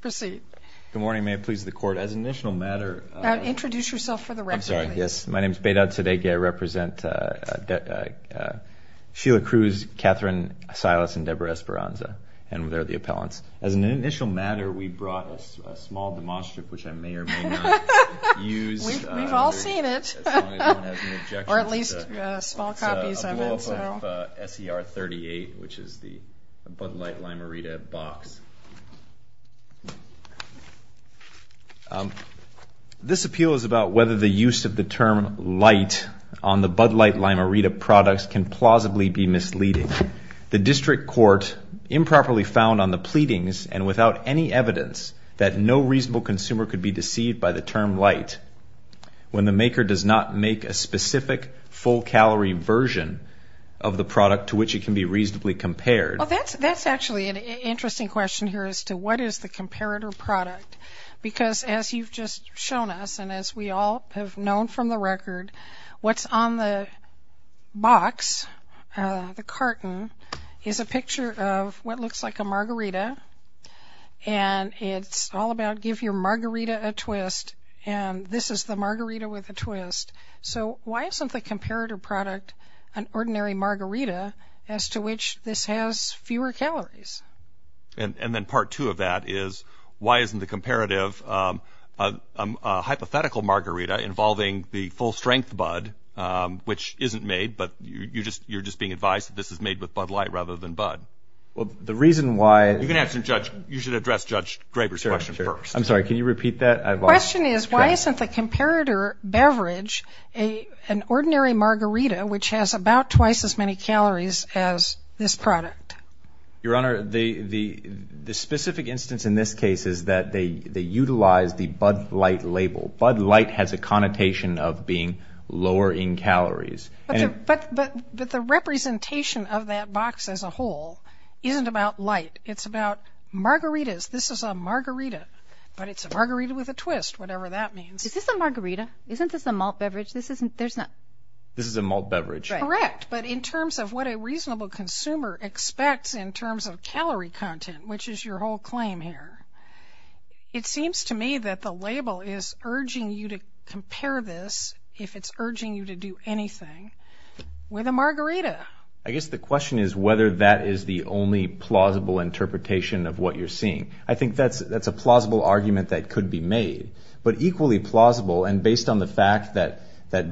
Proceed. Good morning. May it please the court as an initial matter Introduce yourself for the record. Yes. My name is Beidad Tadeghi. I represent Sheila Cruz, Catherine Silas, and Deborah Esperanza and they're the appellants. As an initial matter we brought a small demonstrative which I may or may not use We've all seen it. Or at least small copies of it. It's a development of SER 38 which is the Bud Light Limerida box This appeal is about whether the use of the term light on the Bud Light Limerida products can plausibly be misleading. The district court improperly found on the pleadings and without any evidence that no reasonable consumer could be deceived by the term light when the maker does not make a specific full calorie version of the product to which it can be reasonably compared. Well that's actually an interesting question here as to what is the comparator product because as you've just shown us and as we all have known from the record what's on the box, the carton, is a picture of what looks like a margarita and it's all about give your margarita a twist and this is the margarita with a twist. So why isn't the comparator product an ordinary margarita as to which this has fewer calories? And then part two of that is why isn't the comparative a hypothetical margarita involving the full strength Bud which isn't made but you're just being advised that this is made with Bud Light rather than Bud? Well the reason why... You should address Judge Graber's question first. I'm sorry can you repeat that? The question is why isn't the comparator beverage an ordinary margarita which has about twice as many calories as this product? Your Honor the specific instance in this case is that they utilize the Bud Light label. Bud Light has a connotation of being lower in calories. But the representation of that box as a whole isn't about light it's about margaritas. This is a margarita but it's a margarita with a twist whatever that means. Is this a margarita? Isn't this a malt beverage? This is a malt beverage. Correct but in terms of what a reasonable consumer expects in terms of calorie content which is your whole claim here. It seems to me that the label is urging you to compare this if it's urging you to do anything with a margarita. I guess the question is whether that is the only plausible interpretation of what you're seeing. I think that's a plausible argument that could be made but equally plausible and based on the fact that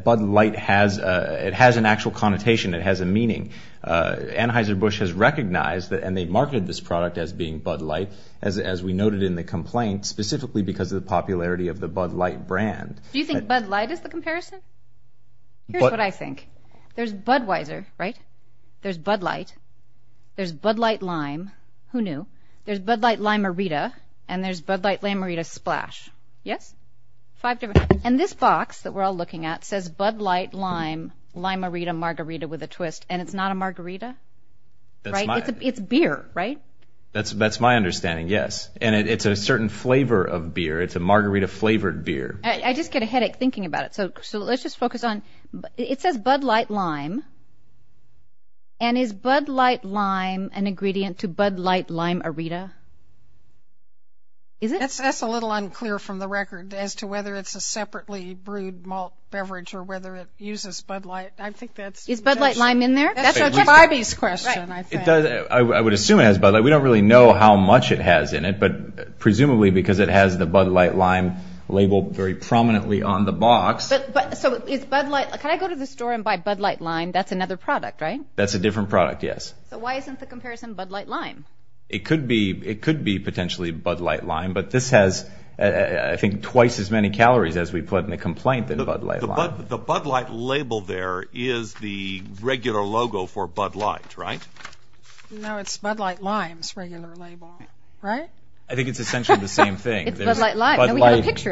Bud Light has an actual connotation it has a meaning. Anheuser-Busch has recognized that and they marketed this product as being Bud Light as we noted in the complaint specifically because of the popularity of the Bud Light brand. Do you think Bud Light is the comparison? Here's what I think. There's Budweiser right? There's Bud Light. There's Bud Light Lime. Who knew? There's Bud Light Lime-arita and there's Bud Light Lime-arita Splash. Yes? And this box that we're all looking at says Bud Light Lime Lime-arita Margarita with a twist and it's not a margarita? It's beer right? That's my understanding yes and it's a certain flavor of beer. It's a margarita flavored beer. I just get a headache thinking about it so let's just focus on, it says Bud Light Lime and is Bud Light Lime an ingredient to Bud Light Lime-arita? That's a little unclear from the record as to whether it's a separately brewed malt beverage or whether it uses Bud Light. Is Bud Light Lime in there? That's our question. I would assume it has Bud Light. We don't really know how much it has in it but presumably because it has the Bud Light Lime label very prominently on the box. Can I go to the store and buy Bud Light Lime? That's another product right? That's a different product yes. So why isn't the comparison Bud Light Lime? It could be potentially Bud Light Lime but this has I think twice as many calories as we put in the complaint than Bud Light Lime. The Bud Light label there is the regular logo for Bud Light right? No it's Bud Light Lime's regular label right? I think it's essentially the same thing. It's Bud Light Lime.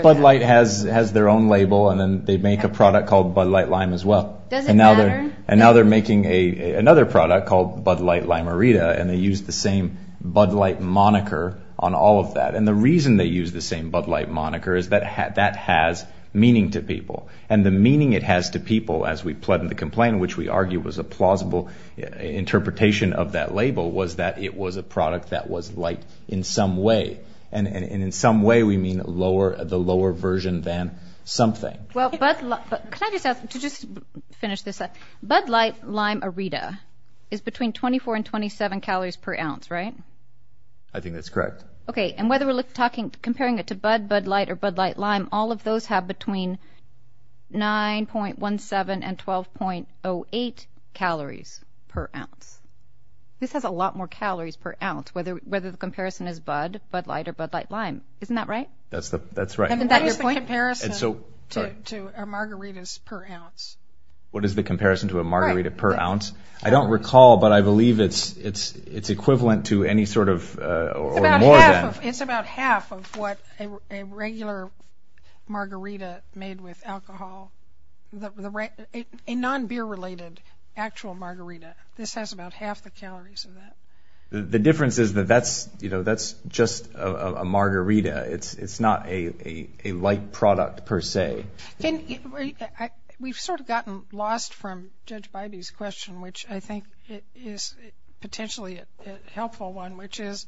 Bud Light has their own label and then they make a product called Bud Light Lime as well. Does it matter? And now they're making another product called Bud Light Lime-arita and they use the same Bud Light moniker on all of that. And the reason they use the same Bud Light moniker is that that has meaning to people. And the meaning it has to people as we put in the complaint which we argue was a plausible interpretation of that label was that it was a product that was light in some way. And in some way we mean the lower version than something. Can I just finish this up? Bud Light Lime-arita is between 24 and 27 calories per ounce right? I think that's correct. Okay and whether we're comparing it to Bud, Bud Light, or Bud Light Lime all of those have between 9.17 and 12.08 calories per ounce. This has a lot more calories per ounce whether the comparison is Bud, Bud Light, or Bud Light Lime. Isn't that right? That's right. What is the comparison to a margarita per ounce? What is the comparison to a margarita per ounce? I don't recall but I believe it's equivalent to any sort of or more than. It's about half of what a regular margarita made with alcohol, a non-beer related actual margarita. This has about half the calories of that. The difference is that that's just a margarita. It's not a light product per se. We've sort of gotten lost from Judge Bybee's question which I think is potentially a helpful one which is,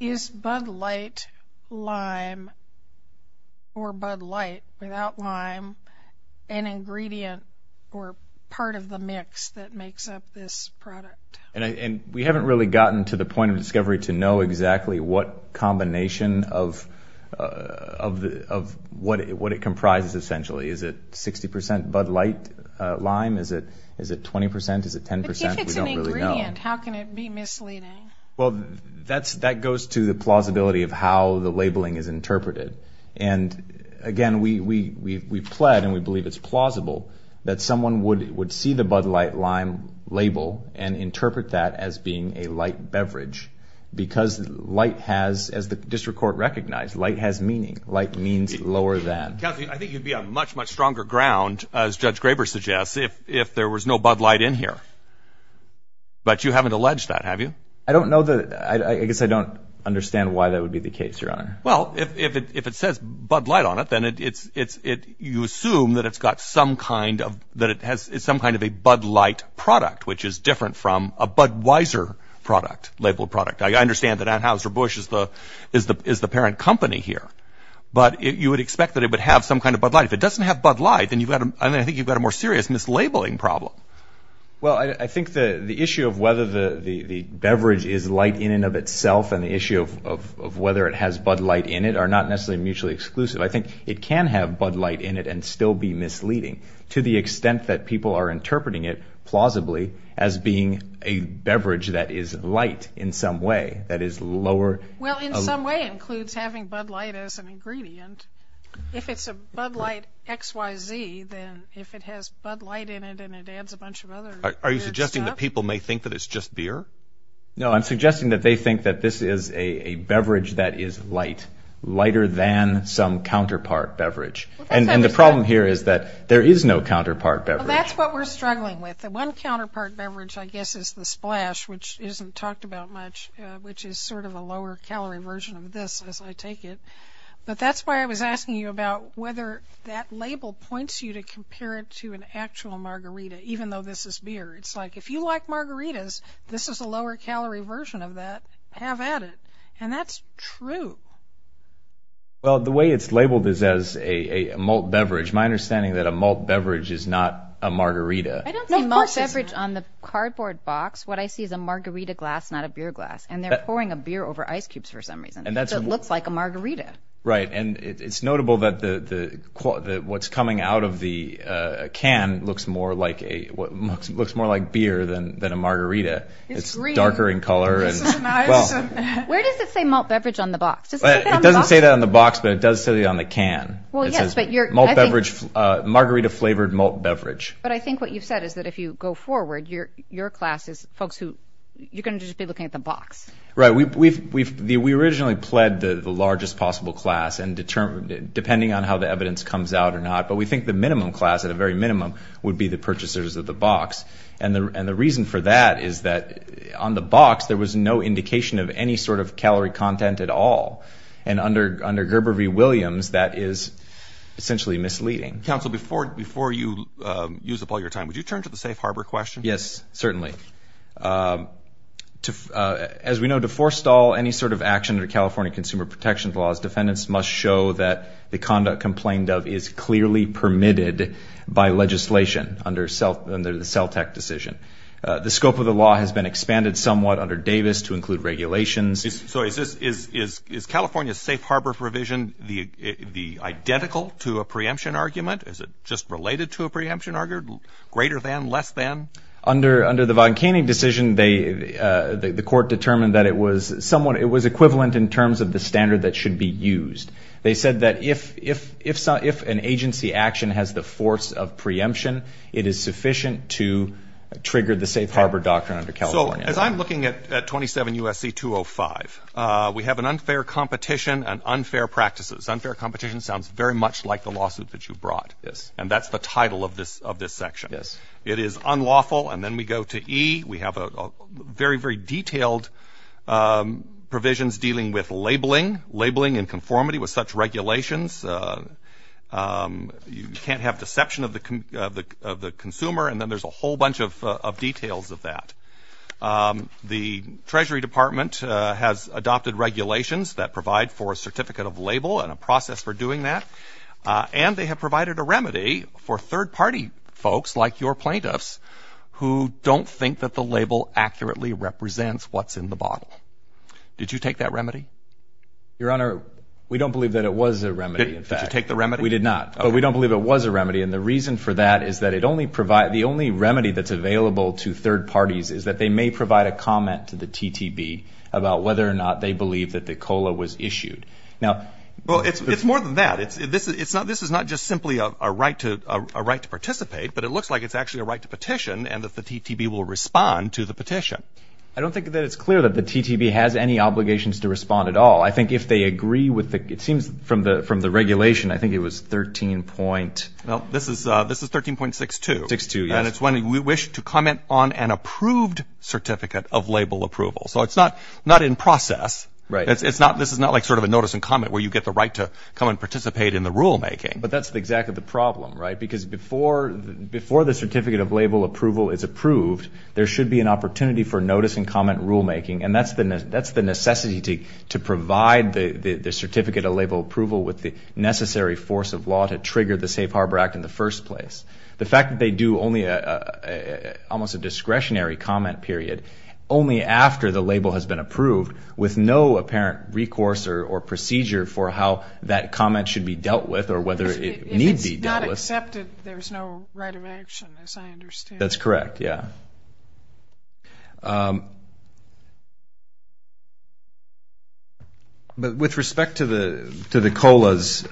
is Bud Light Lime or Bud Light without lime an ingredient or part of the mix that makes up this product? We haven't really gotten to the point of discovery to know exactly what combination of what it comprises essentially. Is it 60% Bud Light Lime? Is it 20%? Is it 10%? If it's an ingredient, how can it be misleading? That goes to the plausibility of how the labeling is interpreted. Again, we've pled and we believe it's plausible that someone would see the Bud Light Lime label and interpret that as being a light beverage because light has, as the district court recognized, light has meaning. Light means lower than. I think you'd be on much, much stronger ground, as Judge Graber suggests, if there was no Bud Light in here. But you haven't alleged that, have you? I guess I don't understand why that would be the case, Your Honor. Well, if it says Bud Light on it, then you assume that it's got some kind of a Bud Light product, which is different from a Budweiser product, labeled product. I understand that Anheuser-Busch is the parent company here. But you would expect that it would have some kind of Bud Light. If it doesn't have Bud Light, then I think you've got a more serious mislabeling problem. Well, I think the issue of whether the beverage is light in and of itself and the issue of whether it has Bud Light in it are not necessarily mutually exclusive. I think it can have Bud Light in it and still be misleading, to the extent that people are interpreting it plausibly as being a beverage that is light in some way, that is lower. Well, in some way it includes having Bud Light as an ingredient. If it's a Bud Light XYZ, then if it has Bud Light in it and it adds a bunch of other weird stuff. Are you suggesting that people may think that it's just beer? No, I'm suggesting that they think that this is a beverage that is light, lighter than some counterpart beverage. And the problem here is that there is no counterpart beverage. Well, that's what we're struggling with. The one counterpart beverage, I guess, is the Splash, which isn't talked about much, which is sort of a lower-calorie version of this, as I take it. But that's why I was asking you about whether that label points you to compare it to an actual margarita, even though this is beer. It's like, if you like margaritas, this is a lower-calorie version of that. Have at it. And that's true. Well, the way it's labeled is as a malt beverage. My understanding is that a malt beverage is not a margarita. I don't see malt beverage on the cardboard box. What I see is a margarita glass, not a beer glass. And they're pouring a beer over ice cubes for some reason. It looks like a margarita. Right, and it's notable that what's coming out of the can looks more like beer than a margarita. It's green. It's darker in color. Where does it say malt beverage on the box? It doesn't say that on the box, but it does say that on the can. It says malt beverage, margarita-flavored malt beverage. But I think what you've said is that if you go forward, your class is folks who, you're going to just be looking at the box. Right. We originally pled the largest possible class, depending on how the evidence comes out or not. But we think the minimum class, at a very minimum, would be the purchasers of the box. And the reason for that is that on the box, there was no indication of any sort of calorie content at all. And under Gerber v. Williams, that is essentially misleading. Counsel, before you use up all your time, would you turn to the safe harbor question? Yes, certainly. As we know, to forestall any sort of action under California consumer protection laws, defendants must show that the conduct complained of is clearly permitted by legislation under the CELTEC decision. The scope of the law has been expanded somewhat under Davis to include regulations. So is California's safe harbor provision identical to a preemption argument? Is it just related to a preemption argument? Greater than, less than? Under the Von Kaning decision, the court determined that it was somewhat, it was equivalent in terms of the standard that should be used. They said that if an agency action has the force of preemption, it is sufficient to trigger the safe harbor doctrine under California. So as I'm looking at 27 U.S.C. 205, we have an unfair competition and unfair practices. Unfair competition sounds very much like the lawsuit that you brought. Yes. And that's the title of this section. Yes. It is unlawful. And then we go to E. We have very, very detailed provisions dealing with labeling, labeling and conformity with such regulations. You can't have deception of the consumer. And then there's a whole bunch of details of that. The Treasury Department has adopted regulations that provide for a certificate of label and a process for doing that. And they have provided a remedy for third-party folks like your plaintiffs who don't think that the label accurately represents what's in the bottle. Did you take that remedy? Your Honor, we don't believe that it was a remedy. Did you take the remedy? We did not. But we don't believe it was a remedy. And the reason for that is that it only provides, the only remedy that's available to third parties is that they may provide a comment to the TTB about whether or not they believe that the COLA was issued. Well, it's more than that. This is not just simply a right to participate, but it looks like it's actually a right to petition and that the TTB will respond to the petition. I don't think that it's clear that the TTB has any obligations to respond at all. I think if they agree with the, it seems from the regulation, I think it was 13 point. Well, this is 13.62. And it's when we wish to comment on an approved certificate of label approval. So it's not in process. This is not like sort of a notice and comment where you get the right to come and participate in the rulemaking. But that's exactly the problem, right? Because before the certificate of label approval is approved, there should be an opportunity for notice and comment rulemaking. And that's the necessity to provide the certificate of label approval with the necessary force of law to trigger the Safe Harbor Act in the first place. The fact that they do only almost a discretionary comment period only after the label has been approved with no apparent recourse or procedure for how that comment should be dealt with or whether it needs to be dealt with. If it's not accepted, there's no right of action, as I understand. That's correct, yeah. But with respect to the COLAs,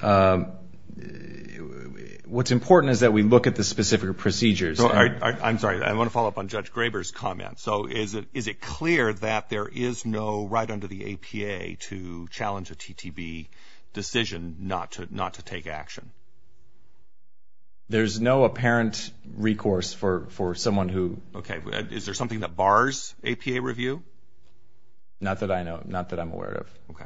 what's important is that we look at the specific procedures. I'm sorry. I want to follow up on Judge Graber's comment. So is it clear that there is no right under the APA to challenge a TTB decision not to take action? There's no apparent recourse for someone who... Okay. Is there something that bars APA review? Not that I know of. Not that I'm aware of. Okay.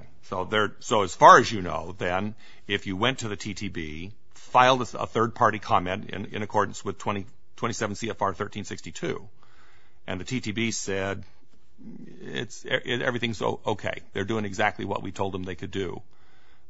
So as far as you know, then, if you went to the TTB, filed a third-party comment in accordance with 27 CFR 1362, and the TTB said everything's okay, they're doing exactly what we told them they could do,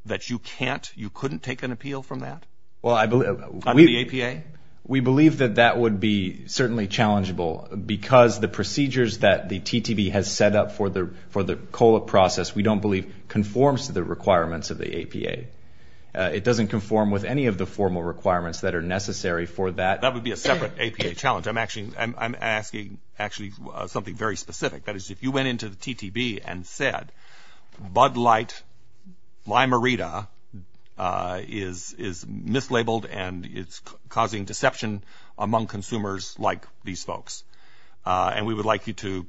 that you can't, you couldn't take an appeal from that under the APA? We believe that that would be certainly challengeable because the procedures that the TTB has set up for the COLA process we don't believe conforms to the requirements of the APA. It doesn't conform with any of the formal requirements that are necessary for that. That would be a separate APA challenge. I'm asking actually something very specific. That is, if you went into the TTB and said Bud Light, Lime-A-Rita is mislabeled and it's causing deception among consumers like these folks, and we would like you to,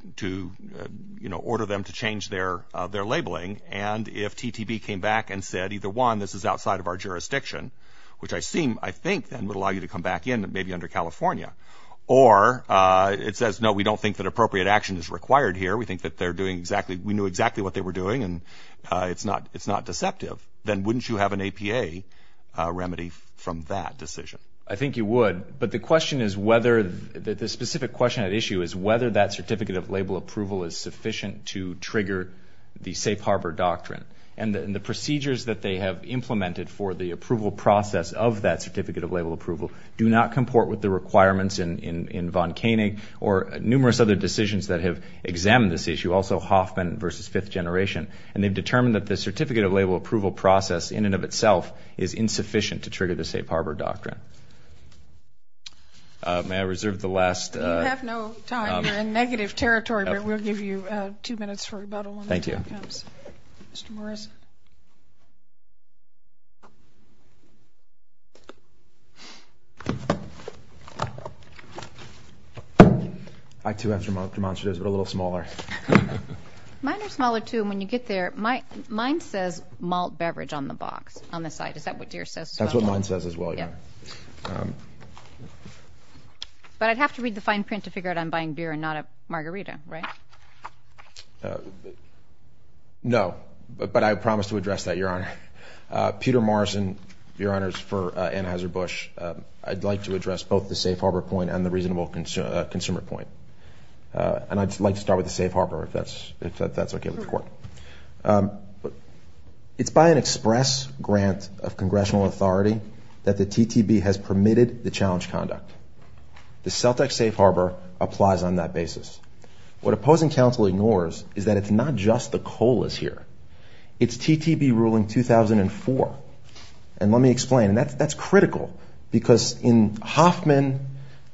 you know, order them to change their labeling, and if TTB came back and said either, one, this is outside of our jurisdiction, which I think then would allow you to come back in maybe under California, or it says, no, we don't think that appropriate action is required here, we think that they're doing exactly, we knew exactly what they were doing and it's not deceptive, then wouldn't you have an APA remedy from that decision? I think you would, but the question is whether, the specific question at issue is whether that certificate of label approval is sufficient to trigger the Safe Harbor Doctrine, and the procedures that they have implemented for the approval process of that certificate of label approval do not comport with the requirements in Von Koenig or numerous other decisions that have examined this issue, also Hoffman versus Fifth Generation, and they've determined that the certificate of label approval process in and of itself is insufficient to trigger the Safe Harbor Doctrine. May I reserve the last? You have no time. You're in negative territory, but we'll give you two minutes for rebuttal. Thank you. Here it comes. Mr. Morris. I, too, have demonstratives, but a little smaller. Mine are smaller, too, and when you get there, mine says malt beverage on the box, on the side. Is that what Deere says as well? That's what mine says as well, yeah. But I'd have to read the fine print to figure out I'm buying beer and not a margarita, right? No, but I promise to address that, Your Honor. Peter Morrison, Your Honors, for Anheuser-Busch. I'd like to address both the Safe Harbor point and the reasonable consumer point, and I'd like to start with the Safe Harbor, if that's okay with the Court. It's by an express grant of congressional authority that the TTB has permitted the challenge conduct. The CELTEC Safe Harbor applies on that basis. What opposing counsel ignores is that it's not just the coal that's here. It's TTB ruling 2004, and let me explain. That's critical because in Hoffman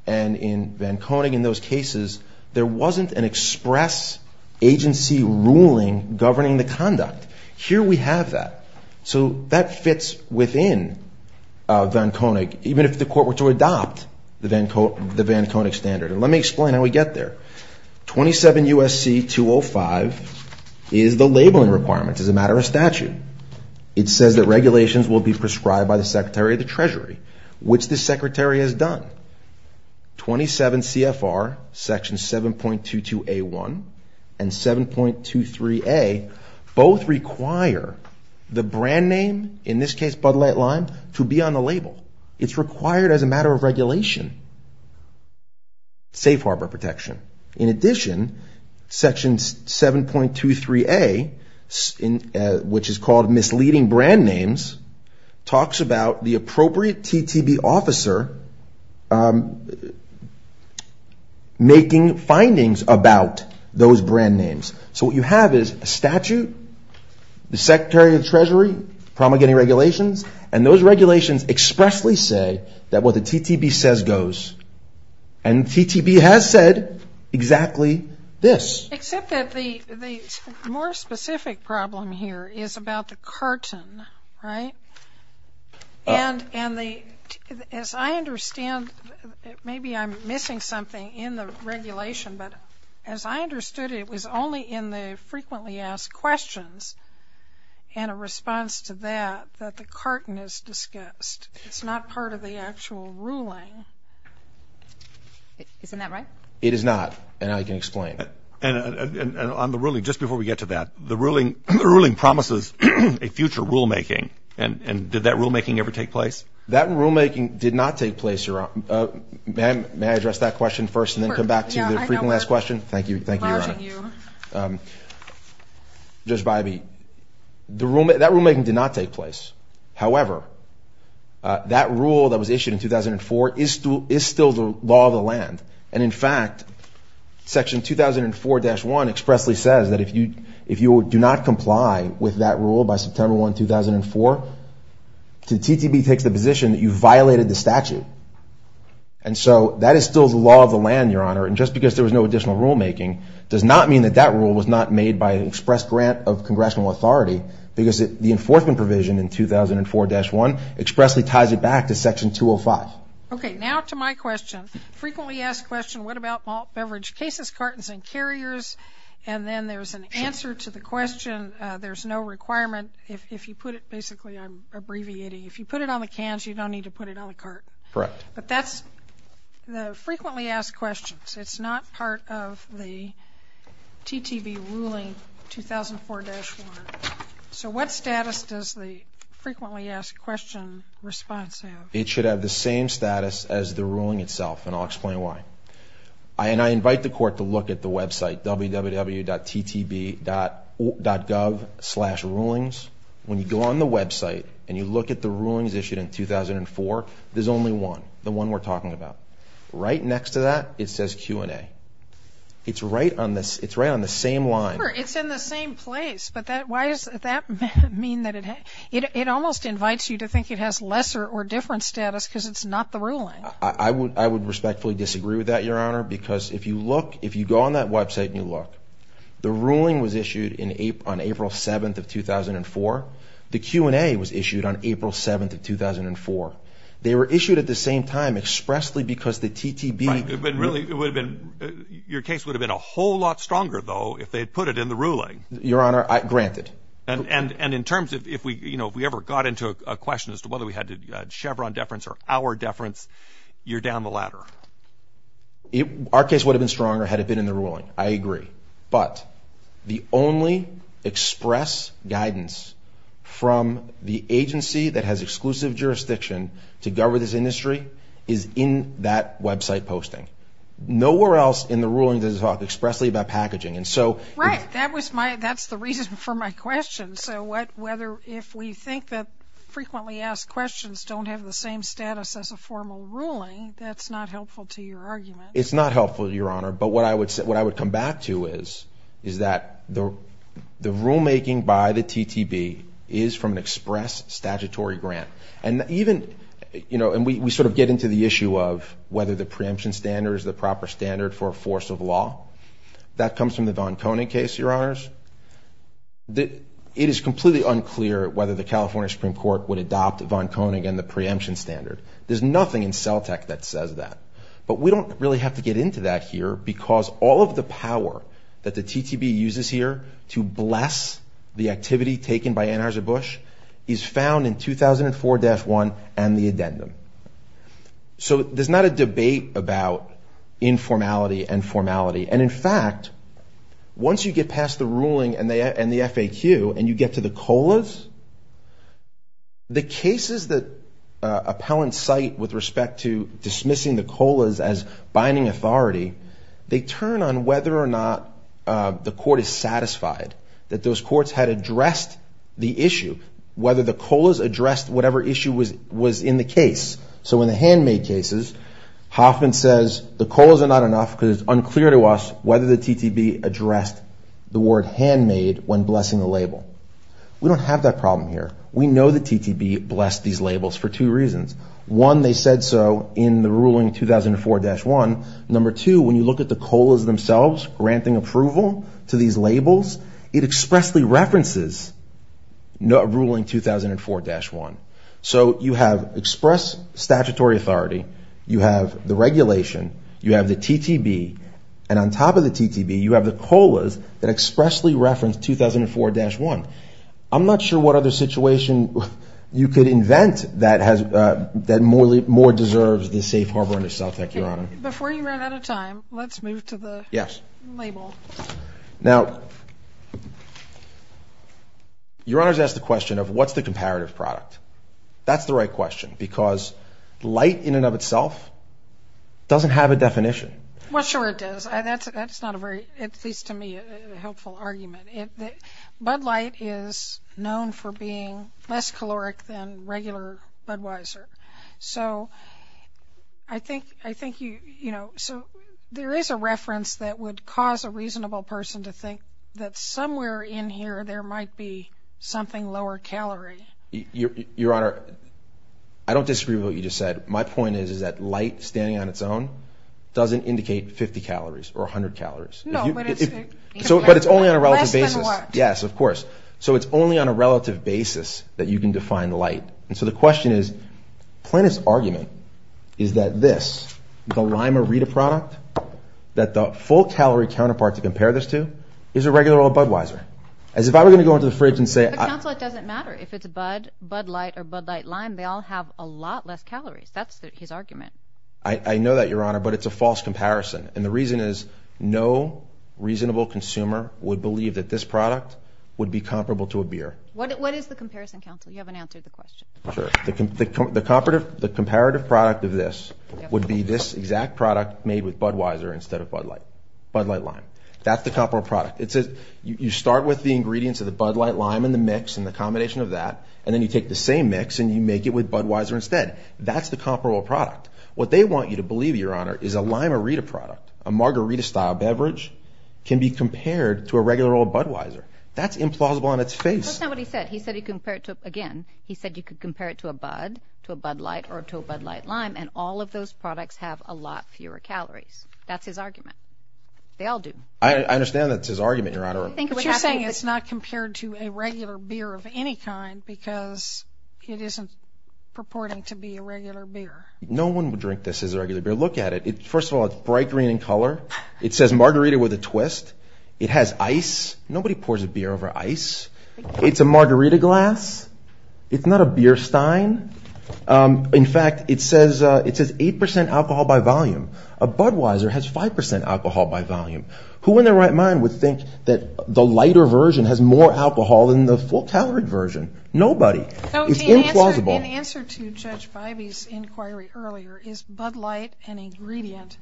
and in Van Koning, in those cases, there wasn't an express agency ruling governing the conduct. Here we have that. So that fits within Van Koning, even if the Court were to adopt the Van Koning standard. And let me explain how we get there. 27 U.S.C. 205 is the labeling requirement. It's a matter of statute. It says that regulations will be prescribed by the Secretary of the Treasury, which the Secretary has done. 27 CFR, Section 7.22a1 and 7.23a both require the brand name, in this case Bud Light Lime, to be on the label. It's required as a matter of regulation. Safe Harbor protection. In addition, Section 7.23a, which is called misleading brand names, talks about the appropriate TTB officer making findings about those brand names. So what you have is a statute, the Secretary of the Treasury, promulgating regulations, and those regulations expressly say that what the TTB says goes. And the TTB has said exactly this. Except that the more specific problem here is about the carton, right? And as I understand, maybe I'm missing something in the regulation, but as I understood it was only in the frequently asked questions and a response to that that the carton is discussed. It's not part of the actual ruling. Isn't that right? It is not. And I can explain. And on the ruling, just before we get to that, the ruling promises a future rulemaking. And did that rulemaking ever take place? That rulemaking did not take place, Your Honor. May I address that question first and then come back to the frequently asked question? Thank you. Thank you, Your Honor. Judge Bybee, that rulemaking did not take place. However, that rule that was issued in 2004 is still the law of the land. And, in fact, Section 2004-1 expressly says that if you do not comply with that rule by September 1, 2004, the TTB takes the position that you violated the statute. And so that is still the law of the land, Your Honor. And just because there was no additional rulemaking does not mean that that rule was not made by an express grant of congressional authority because the enforcement provision in 2004-1 expressly ties it back to Section 205. Okay. Now to my question. Frequently asked question, what about malt beverage cases, cartons, and carriers? And then there's an answer to the question. There's no requirement. If you put it basically, I'm abbreviating, if you put it on the cans, you don't need to put it on the cart. Correct. But that's the frequently asked questions. It's not part of the TTB ruling 2004-1. So what status does the frequently asked question response have? It should have the same status as the ruling itself, and I'll explain why. And I invite the Court to look at the website, www.ttb.gov slash rulings. When you go on the website and you look at the rulings issued in 2004, there's only one, the one we're talking about. Right next to that, it says Q&A. It's right on the same line. Sure, it's in the same place. But why does that mean that it almost invites you to think it has lesser or different status because it's not the ruling? I would respectfully disagree with that, Your Honor, because if you look, if you go on that website and you look, the ruling was issued on April 7th of 2004. The Q&A was issued on April 7th of 2004. They were issued at the same time expressly because the TTB ---- But really, it would have been, your case would have been a whole lot stronger, though, if they had put it in the ruling. Your Honor, granted. And in terms of if we, you know, if we ever got into a question as to whether we had to Chevron deference or our deference, you're down the ladder. Our case would have been stronger had it been in the ruling. I agree. But the only express guidance from the agency that has exclusive jurisdiction to govern this industry is in that website posting. Nowhere else in the ruling does it talk expressly about packaging. Right. That's the reason for my question. So whether if we think that frequently asked questions don't have the same status as a formal ruling, that's not helpful to your argument. It's not helpful, Your Honor. But what I would come back to is that the rulemaking by the TTB is from an express statutory grant. And even, you know, and we sort of get into the issue of whether the preemption standard is the proper standard for a force of law. That comes from the von Koenig case, Your Honors. It is completely unclear whether the California Supreme Court would adopt von Koenig and the preemption standard. There's nothing in CELTEC that says that. But we don't really have to get into that here because all of the power that the TTB uses here to bless the activity taken by Anheuser-Busch is found in 2004-1 and the addendum. So there's not a debate about informality and formality. And, in fact, once you get past the ruling and the FAQ and you get to the COLAs, the cases that appellants cite with respect to dismissing the COLAs as binding authority, they turn on whether or not the court is satisfied that those courts had addressed the issue, whether the COLAs addressed whatever issue was in the case. So in the handmade cases, Hoffman says the COLAs are not enough because it's unclear to us whether the TTB addressed the word handmade when blessing the label. We don't have that problem here. We know the TTB blessed these labels for two reasons. One, they said so in the ruling 2004-1. Number two, when you look at the COLAs themselves granting approval to these labels, it expressly references ruling 2004-1. So you have express statutory authority. You have the regulation. You have the TTB. And on top of the TTB, you have the COLAs that expressly reference 2004-1. I'm not sure what other situation you could invent that more deserves the safe harbor under CELTEC, Your Honor. Before you run out of time, let's move to the label. Now, Your Honor has asked the question of what's the comparative product. That's the right question because light in and of itself doesn't have a definition. Well, sure it does. That's not a very, at least to me, helpful argument. Bud light is known for being less caloric than regular Budweiser. So I think, you know, so there is a reference that would cause a reasonable person to think that somewhere in here there might be something lower calorie. Your Honor, I don't disagree with what you just said. My point is that light standing on its own doesn't indicate 50 calories or 100 calories. No, but it's less than what? Yes, of course. So it's only on a relative basis that you can define light. And so the question is, Plaintiff's argument is that this, the Lime-A-Rita product, that the full-calorie counterpart to compare this to is a regular old Budweiser. As if I were going to go into the fridge and say— But, Counsel, it doesn't matter if it's Bud, Bud Light, or Bud Light Lime. They all have a lot less calories. That's his argument. I know that, Your Honor, but it's a false comparison. And the reason is no reasonable consumer would believe that this product would be comparable to a beer. What is the comparison, Counsel? You haven't answered the question. The comparative product of this would be this exact product made with Budweiser instead of Bud Light. Bud Light Lime. That's the comparable product. You start with the ingredients of the Bud Light Lime and the mix and the combination of that, and then you take the same mix and you make it with Budweiser instead. That's the comparable product. What they want you to believe, Your Honor, is a Lime-A-Rita product, a margarita-style beverage, can be compared to a regular old Budweiser. That's implausible on its face. That's not what he said. He said you could compare it to, again, he said you could compare it to a Bud, to a Bud Light, or to a Bud Light Lime, and all of those products have a lot fewer calories. That's his argument. They all do. I understand that's his argument, Your Honor. But you're saying it's not compared to a regular beer of any kind because it isn't purporting to be a regular beer. No one would drink this as a regular beer. Look at it. First of all, it's bright green in color. It says margarita with a twist. It has ice. Nobody pours a beer over ice. It's a margarita glass. It's not a beer stein. In fact, it says 8% alcohol by volume. A Budweiser has 5% alcohol by volume. Who in their right mind would think that the lighter version has more alcohol than the full-calorie version? Nobody. It's implausible. In answer to Judge Feibe's inquiry earlier, is Bud Light an ingredient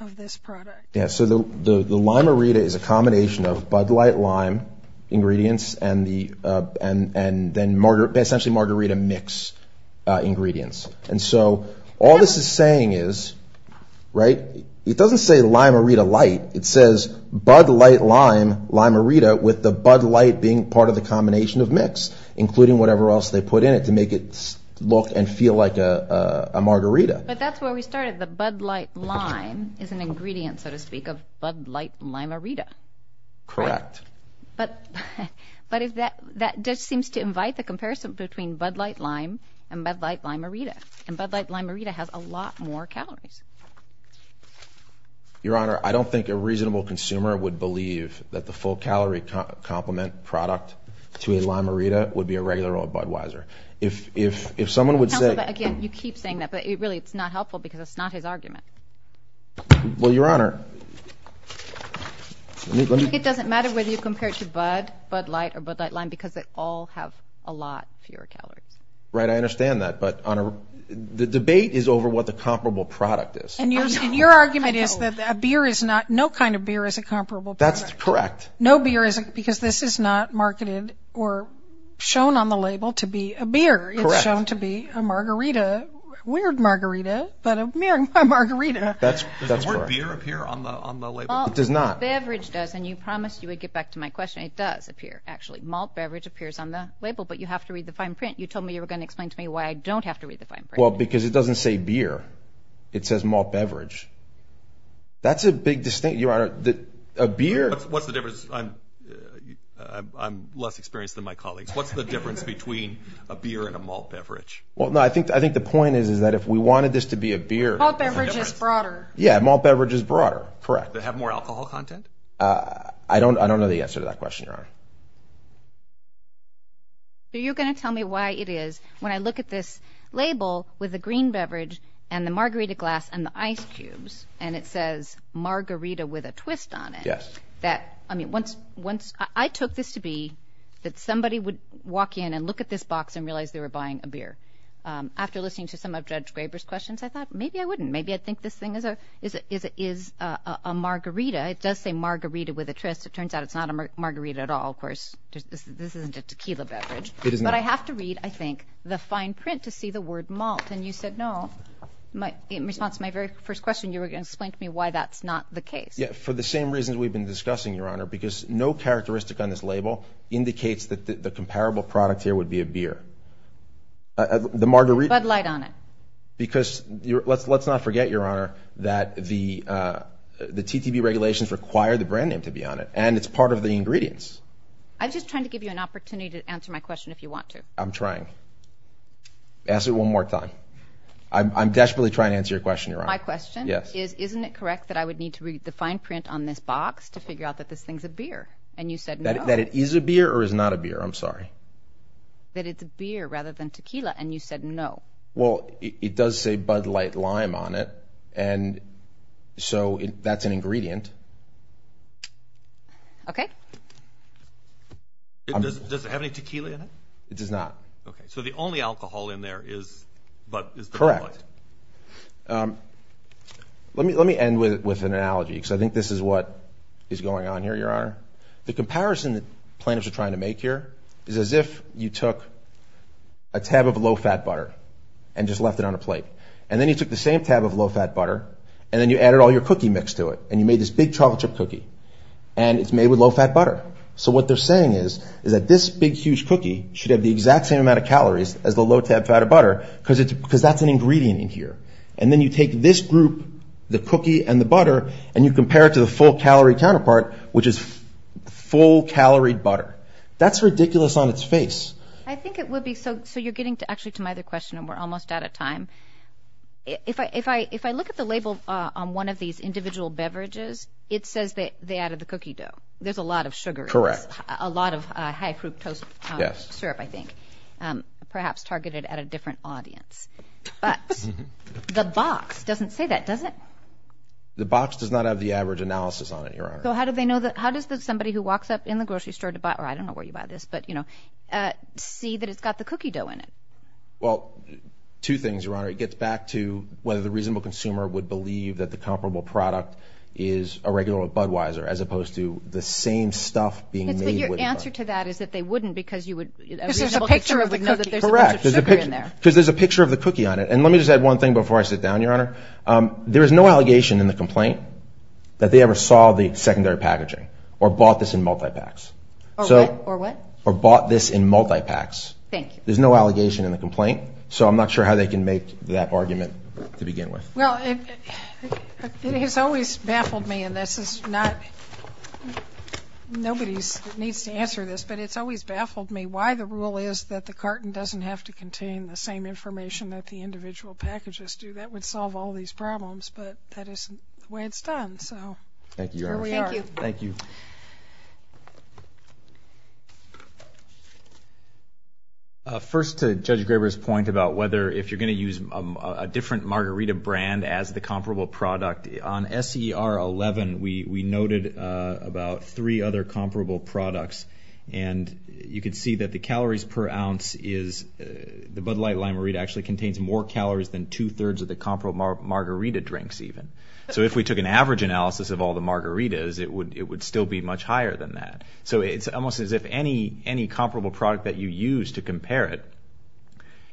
of this product? The Lime-A-Rita is a combination of Bud Light Lime ingredients and essentially margarita mix ingredients. All this is saying is it doesn't say Lime-A-Rita Light. It says Bud Light Lime Lime-A-Rita with the Bud Light being part of the combination of mix, including whatever else they put in it to make it look and feel like a margarita. But that's where we started. The Bud Light Lime is an ingredient, so to speak, of Bud Light Lime-A-Rita. Correct. But that just seems to invite the comparison between Bud Light Lime and Bud Light Lime-A-Rita, and Bud Light Lime-A-Rita has a lot more calories. Your Honor, I don't think a reasonable consumer would believe that the full-calorie complement product to a Lime-A-Rita would be a regular old Budweiser. Counselor, again, you keep saying that, but really it's not helpful because it's not his argument. Well, Your Honor. It doesn't matter whether you compare it to Bud, Bud Light, or Bud Light Lime because they all have a lot fewer calories. Right, I understand that. But, Your Honor, the debate is over what the comparable product is. And your argument is that a beer is not, no kind of beer is a comparable product. That's correct. No beer is, because this is not marketed or shown on the label to be a beer. Correct. It's shown to be a margarita, weird margarita, but a margarita. Does the word beer appear on the label? It does not. Malt beverage does, and you promised you would get back to my question. It does appear, actually. Malt beverage appears on the label, but you have to read the fine print. You told me you were going to explain to me why I don't have to read the fine print. Well, because it doesn't say beer. It says malt beverage. That's a big distinction, Your Honor. What's the difference? I'm less experienced than my colleagues. What's the difference between a beer and a malt beverage? Well, no, I think the point is that if we wanted this to be a beer. Malt beverage is broader. Yeah, malt beverage is broader, correct. Does it have more alcohol content? I don't know the answer to that question, Your Honor. Are you going to tell me why it is, when I look at this label with the green beverage and the margarita glass and the ice cubes, and it says margarita with a twist on it. Yes. I took this to be that somebody would walk in and look at this box and realize they were buying a beer. After listening to some of Judge Graber's questions, I thought maybe I wouldn't. Maybe I'd think this thing is a margarita. It does say margarita with a twist. It turns out it's not a margarita at all. Of course, this isn't a tequila beverage. It is not. But I have to read, I think, the fine print to see the word malt, and you said no. In response to my very first question, you were going to explain to me why that's not the case. For the same reasons we've been discussing, Your Honor, because no characteristic on this label indicates that the comparable product here would be a beer. The margarita. Bud Light on it. Because let's not forget, Your Honor, that the TTV regulations require the brand name to be on it, and it's part of the ingredients. I'm just trying to give you an opportunity to answer my question if you want to. I'm trying. I'm desperately trying to answer your question, Your Honor. My question is isn't it correct that I would need to read the fine print on this box to figure out that this thing's a beer, and you said no. That it is a beer or is not a beer. I'm sorry. That it's a beer rather than tequila, and you said no. Well, it does say Bud Light Lime on it, and so that's an ingredient. Okay. Does it have any tequila in it? It does not. Okay, so the only alcohol in there is Bud Light. Correct. Let me end with an analogy, because I think this is what is going on here, Your Honor. The comparison that plaintiffs are trying to make here is as if you took a tab of low-fat butter and just left it on a plate, and then you took the same tab of low-fat butter, and then you added all your cookie mix to it, and you made this big chocolate chip cookie, and it's made with low-fat butter. So what they're saying is that this big, huge cookie should have the exact same amount of calories as the low-fat butter, because that's an ingredient in here. And then you take this group, the cookie and the butter, and you compare it to the full-calorie counterpart, which is full-calorie butter. That's ridiculous on its face. I think it would be. So you're getting actually to my other question, and we're almost out of time. If I look at the label on one of these individual beverages, it says that they added the cookie dough. There's a lot of sugar in this. Correct. A lot of high-fructose syrup, I think, perhaps targeted at a different audience. But the box doesn't say that, does it? The box does not have the average analysis on it, Your Honor. So how do they know that? How does somebody who walks up in the grocery store to buy, or I don't know where you buy this, but, you know, see that it's got the cookie dough in it? Well, two things, Your Honor. It gets back to whether the reasonable consumer would believe that the comparable product is a regular Budweiser, as opposed to the same stuff being made with the butter. But your answer to that is that they wouldn't because you would… Because there's a picture of the cookie. Correct. Because there's a picture of the cookie on it. And let me just add one thing before I sit down, Your Honor. There is no allegation in the complaint that they ever saw the secondary packaging or bought this in multi-packs. Or what? Or bought this in multi-packs. Thank you. There's no allegation in the complaint, so I'm not sure how they can make that argument to begin with. Well, it has always baffled me, and this is not… Nobody needs to answer this, but it's always baffled me why the rule is that the carton doesn't have to contain the same information that the individual packages do. That would solve all these problems, but that isn't the way it's done. Thank you, Your Honor. Thank you. Thank you. First, to Judge Graber's point about whether if you're going to use a different margarita brand as the comparable product, on SER 11, we noted about three other comparable products. And you can see that the calories per ounce is… The Bud Light Lime-A-Rita actually contains more calories than two-thirds of the comparable margarita drinks, even. So if we took an average analysis of all the margaritas, it would still be much higher than that. So it's almost as if any comparable product that you use to compare it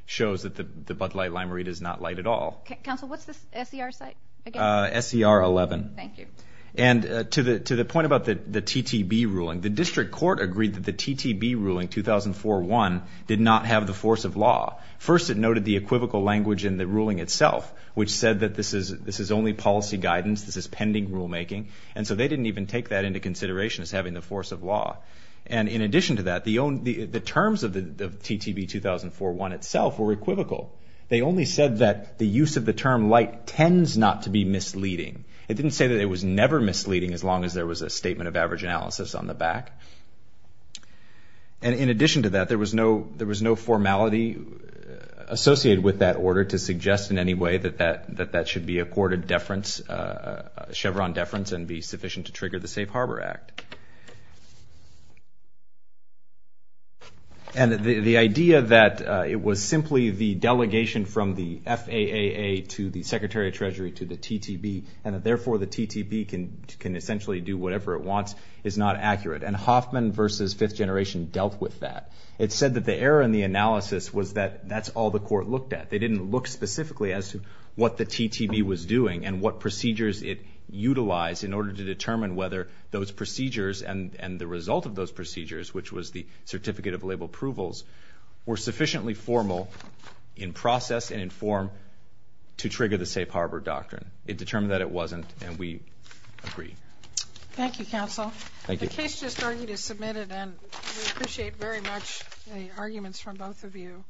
shows that the Bud Light Lime-A-Rita is not light at all. Counsel, what's the SER site again? SER 11. Thank you. And to the point about the TTB ruling, the district court agreed that the TTB ruling, 2004-1, did not have the force of law. First, it noted the equivocal language in the ruling itself, which said that this is only policy guidance, this is pending rulemaking. And so they didn't even take that into consideration as having the force of law. And in addition to that, the terms of the TTB 2004-1 itself were equivocal. They only said that the use of the term light tends not to be misleading. It didn't say that it was never misleading, as long as there was a statement of average analysis on the back. And in addition to that, there was no formality associated with that order to suggest in any way that that should be accorded Chevron deference and be sufficient to trigger the Safe Harbor Act. And the idea that it was simply the delegation from the FAAA to the Secretary of Treasury to the TTB, and that therefore the TTB can essentially do whatever it wants, is not accurate. And Hoffman v. Fifth Generation dealt with that. It said that the error in the analysis was that that's all the court looked at. They didn't look specifically as to what the TTB was doing and what procedures it utilized in order to determine whether those procedures and the result of those procedures, which was the certificate of label approvals, were sufficiently formal in process and in form to trigger the Safe Harbor Doctrine. It determined that it wasn't, and we agree. Thank you, counsel. Thank you. The case just argued is submitted, and we appreciate very much the arguments from both of you.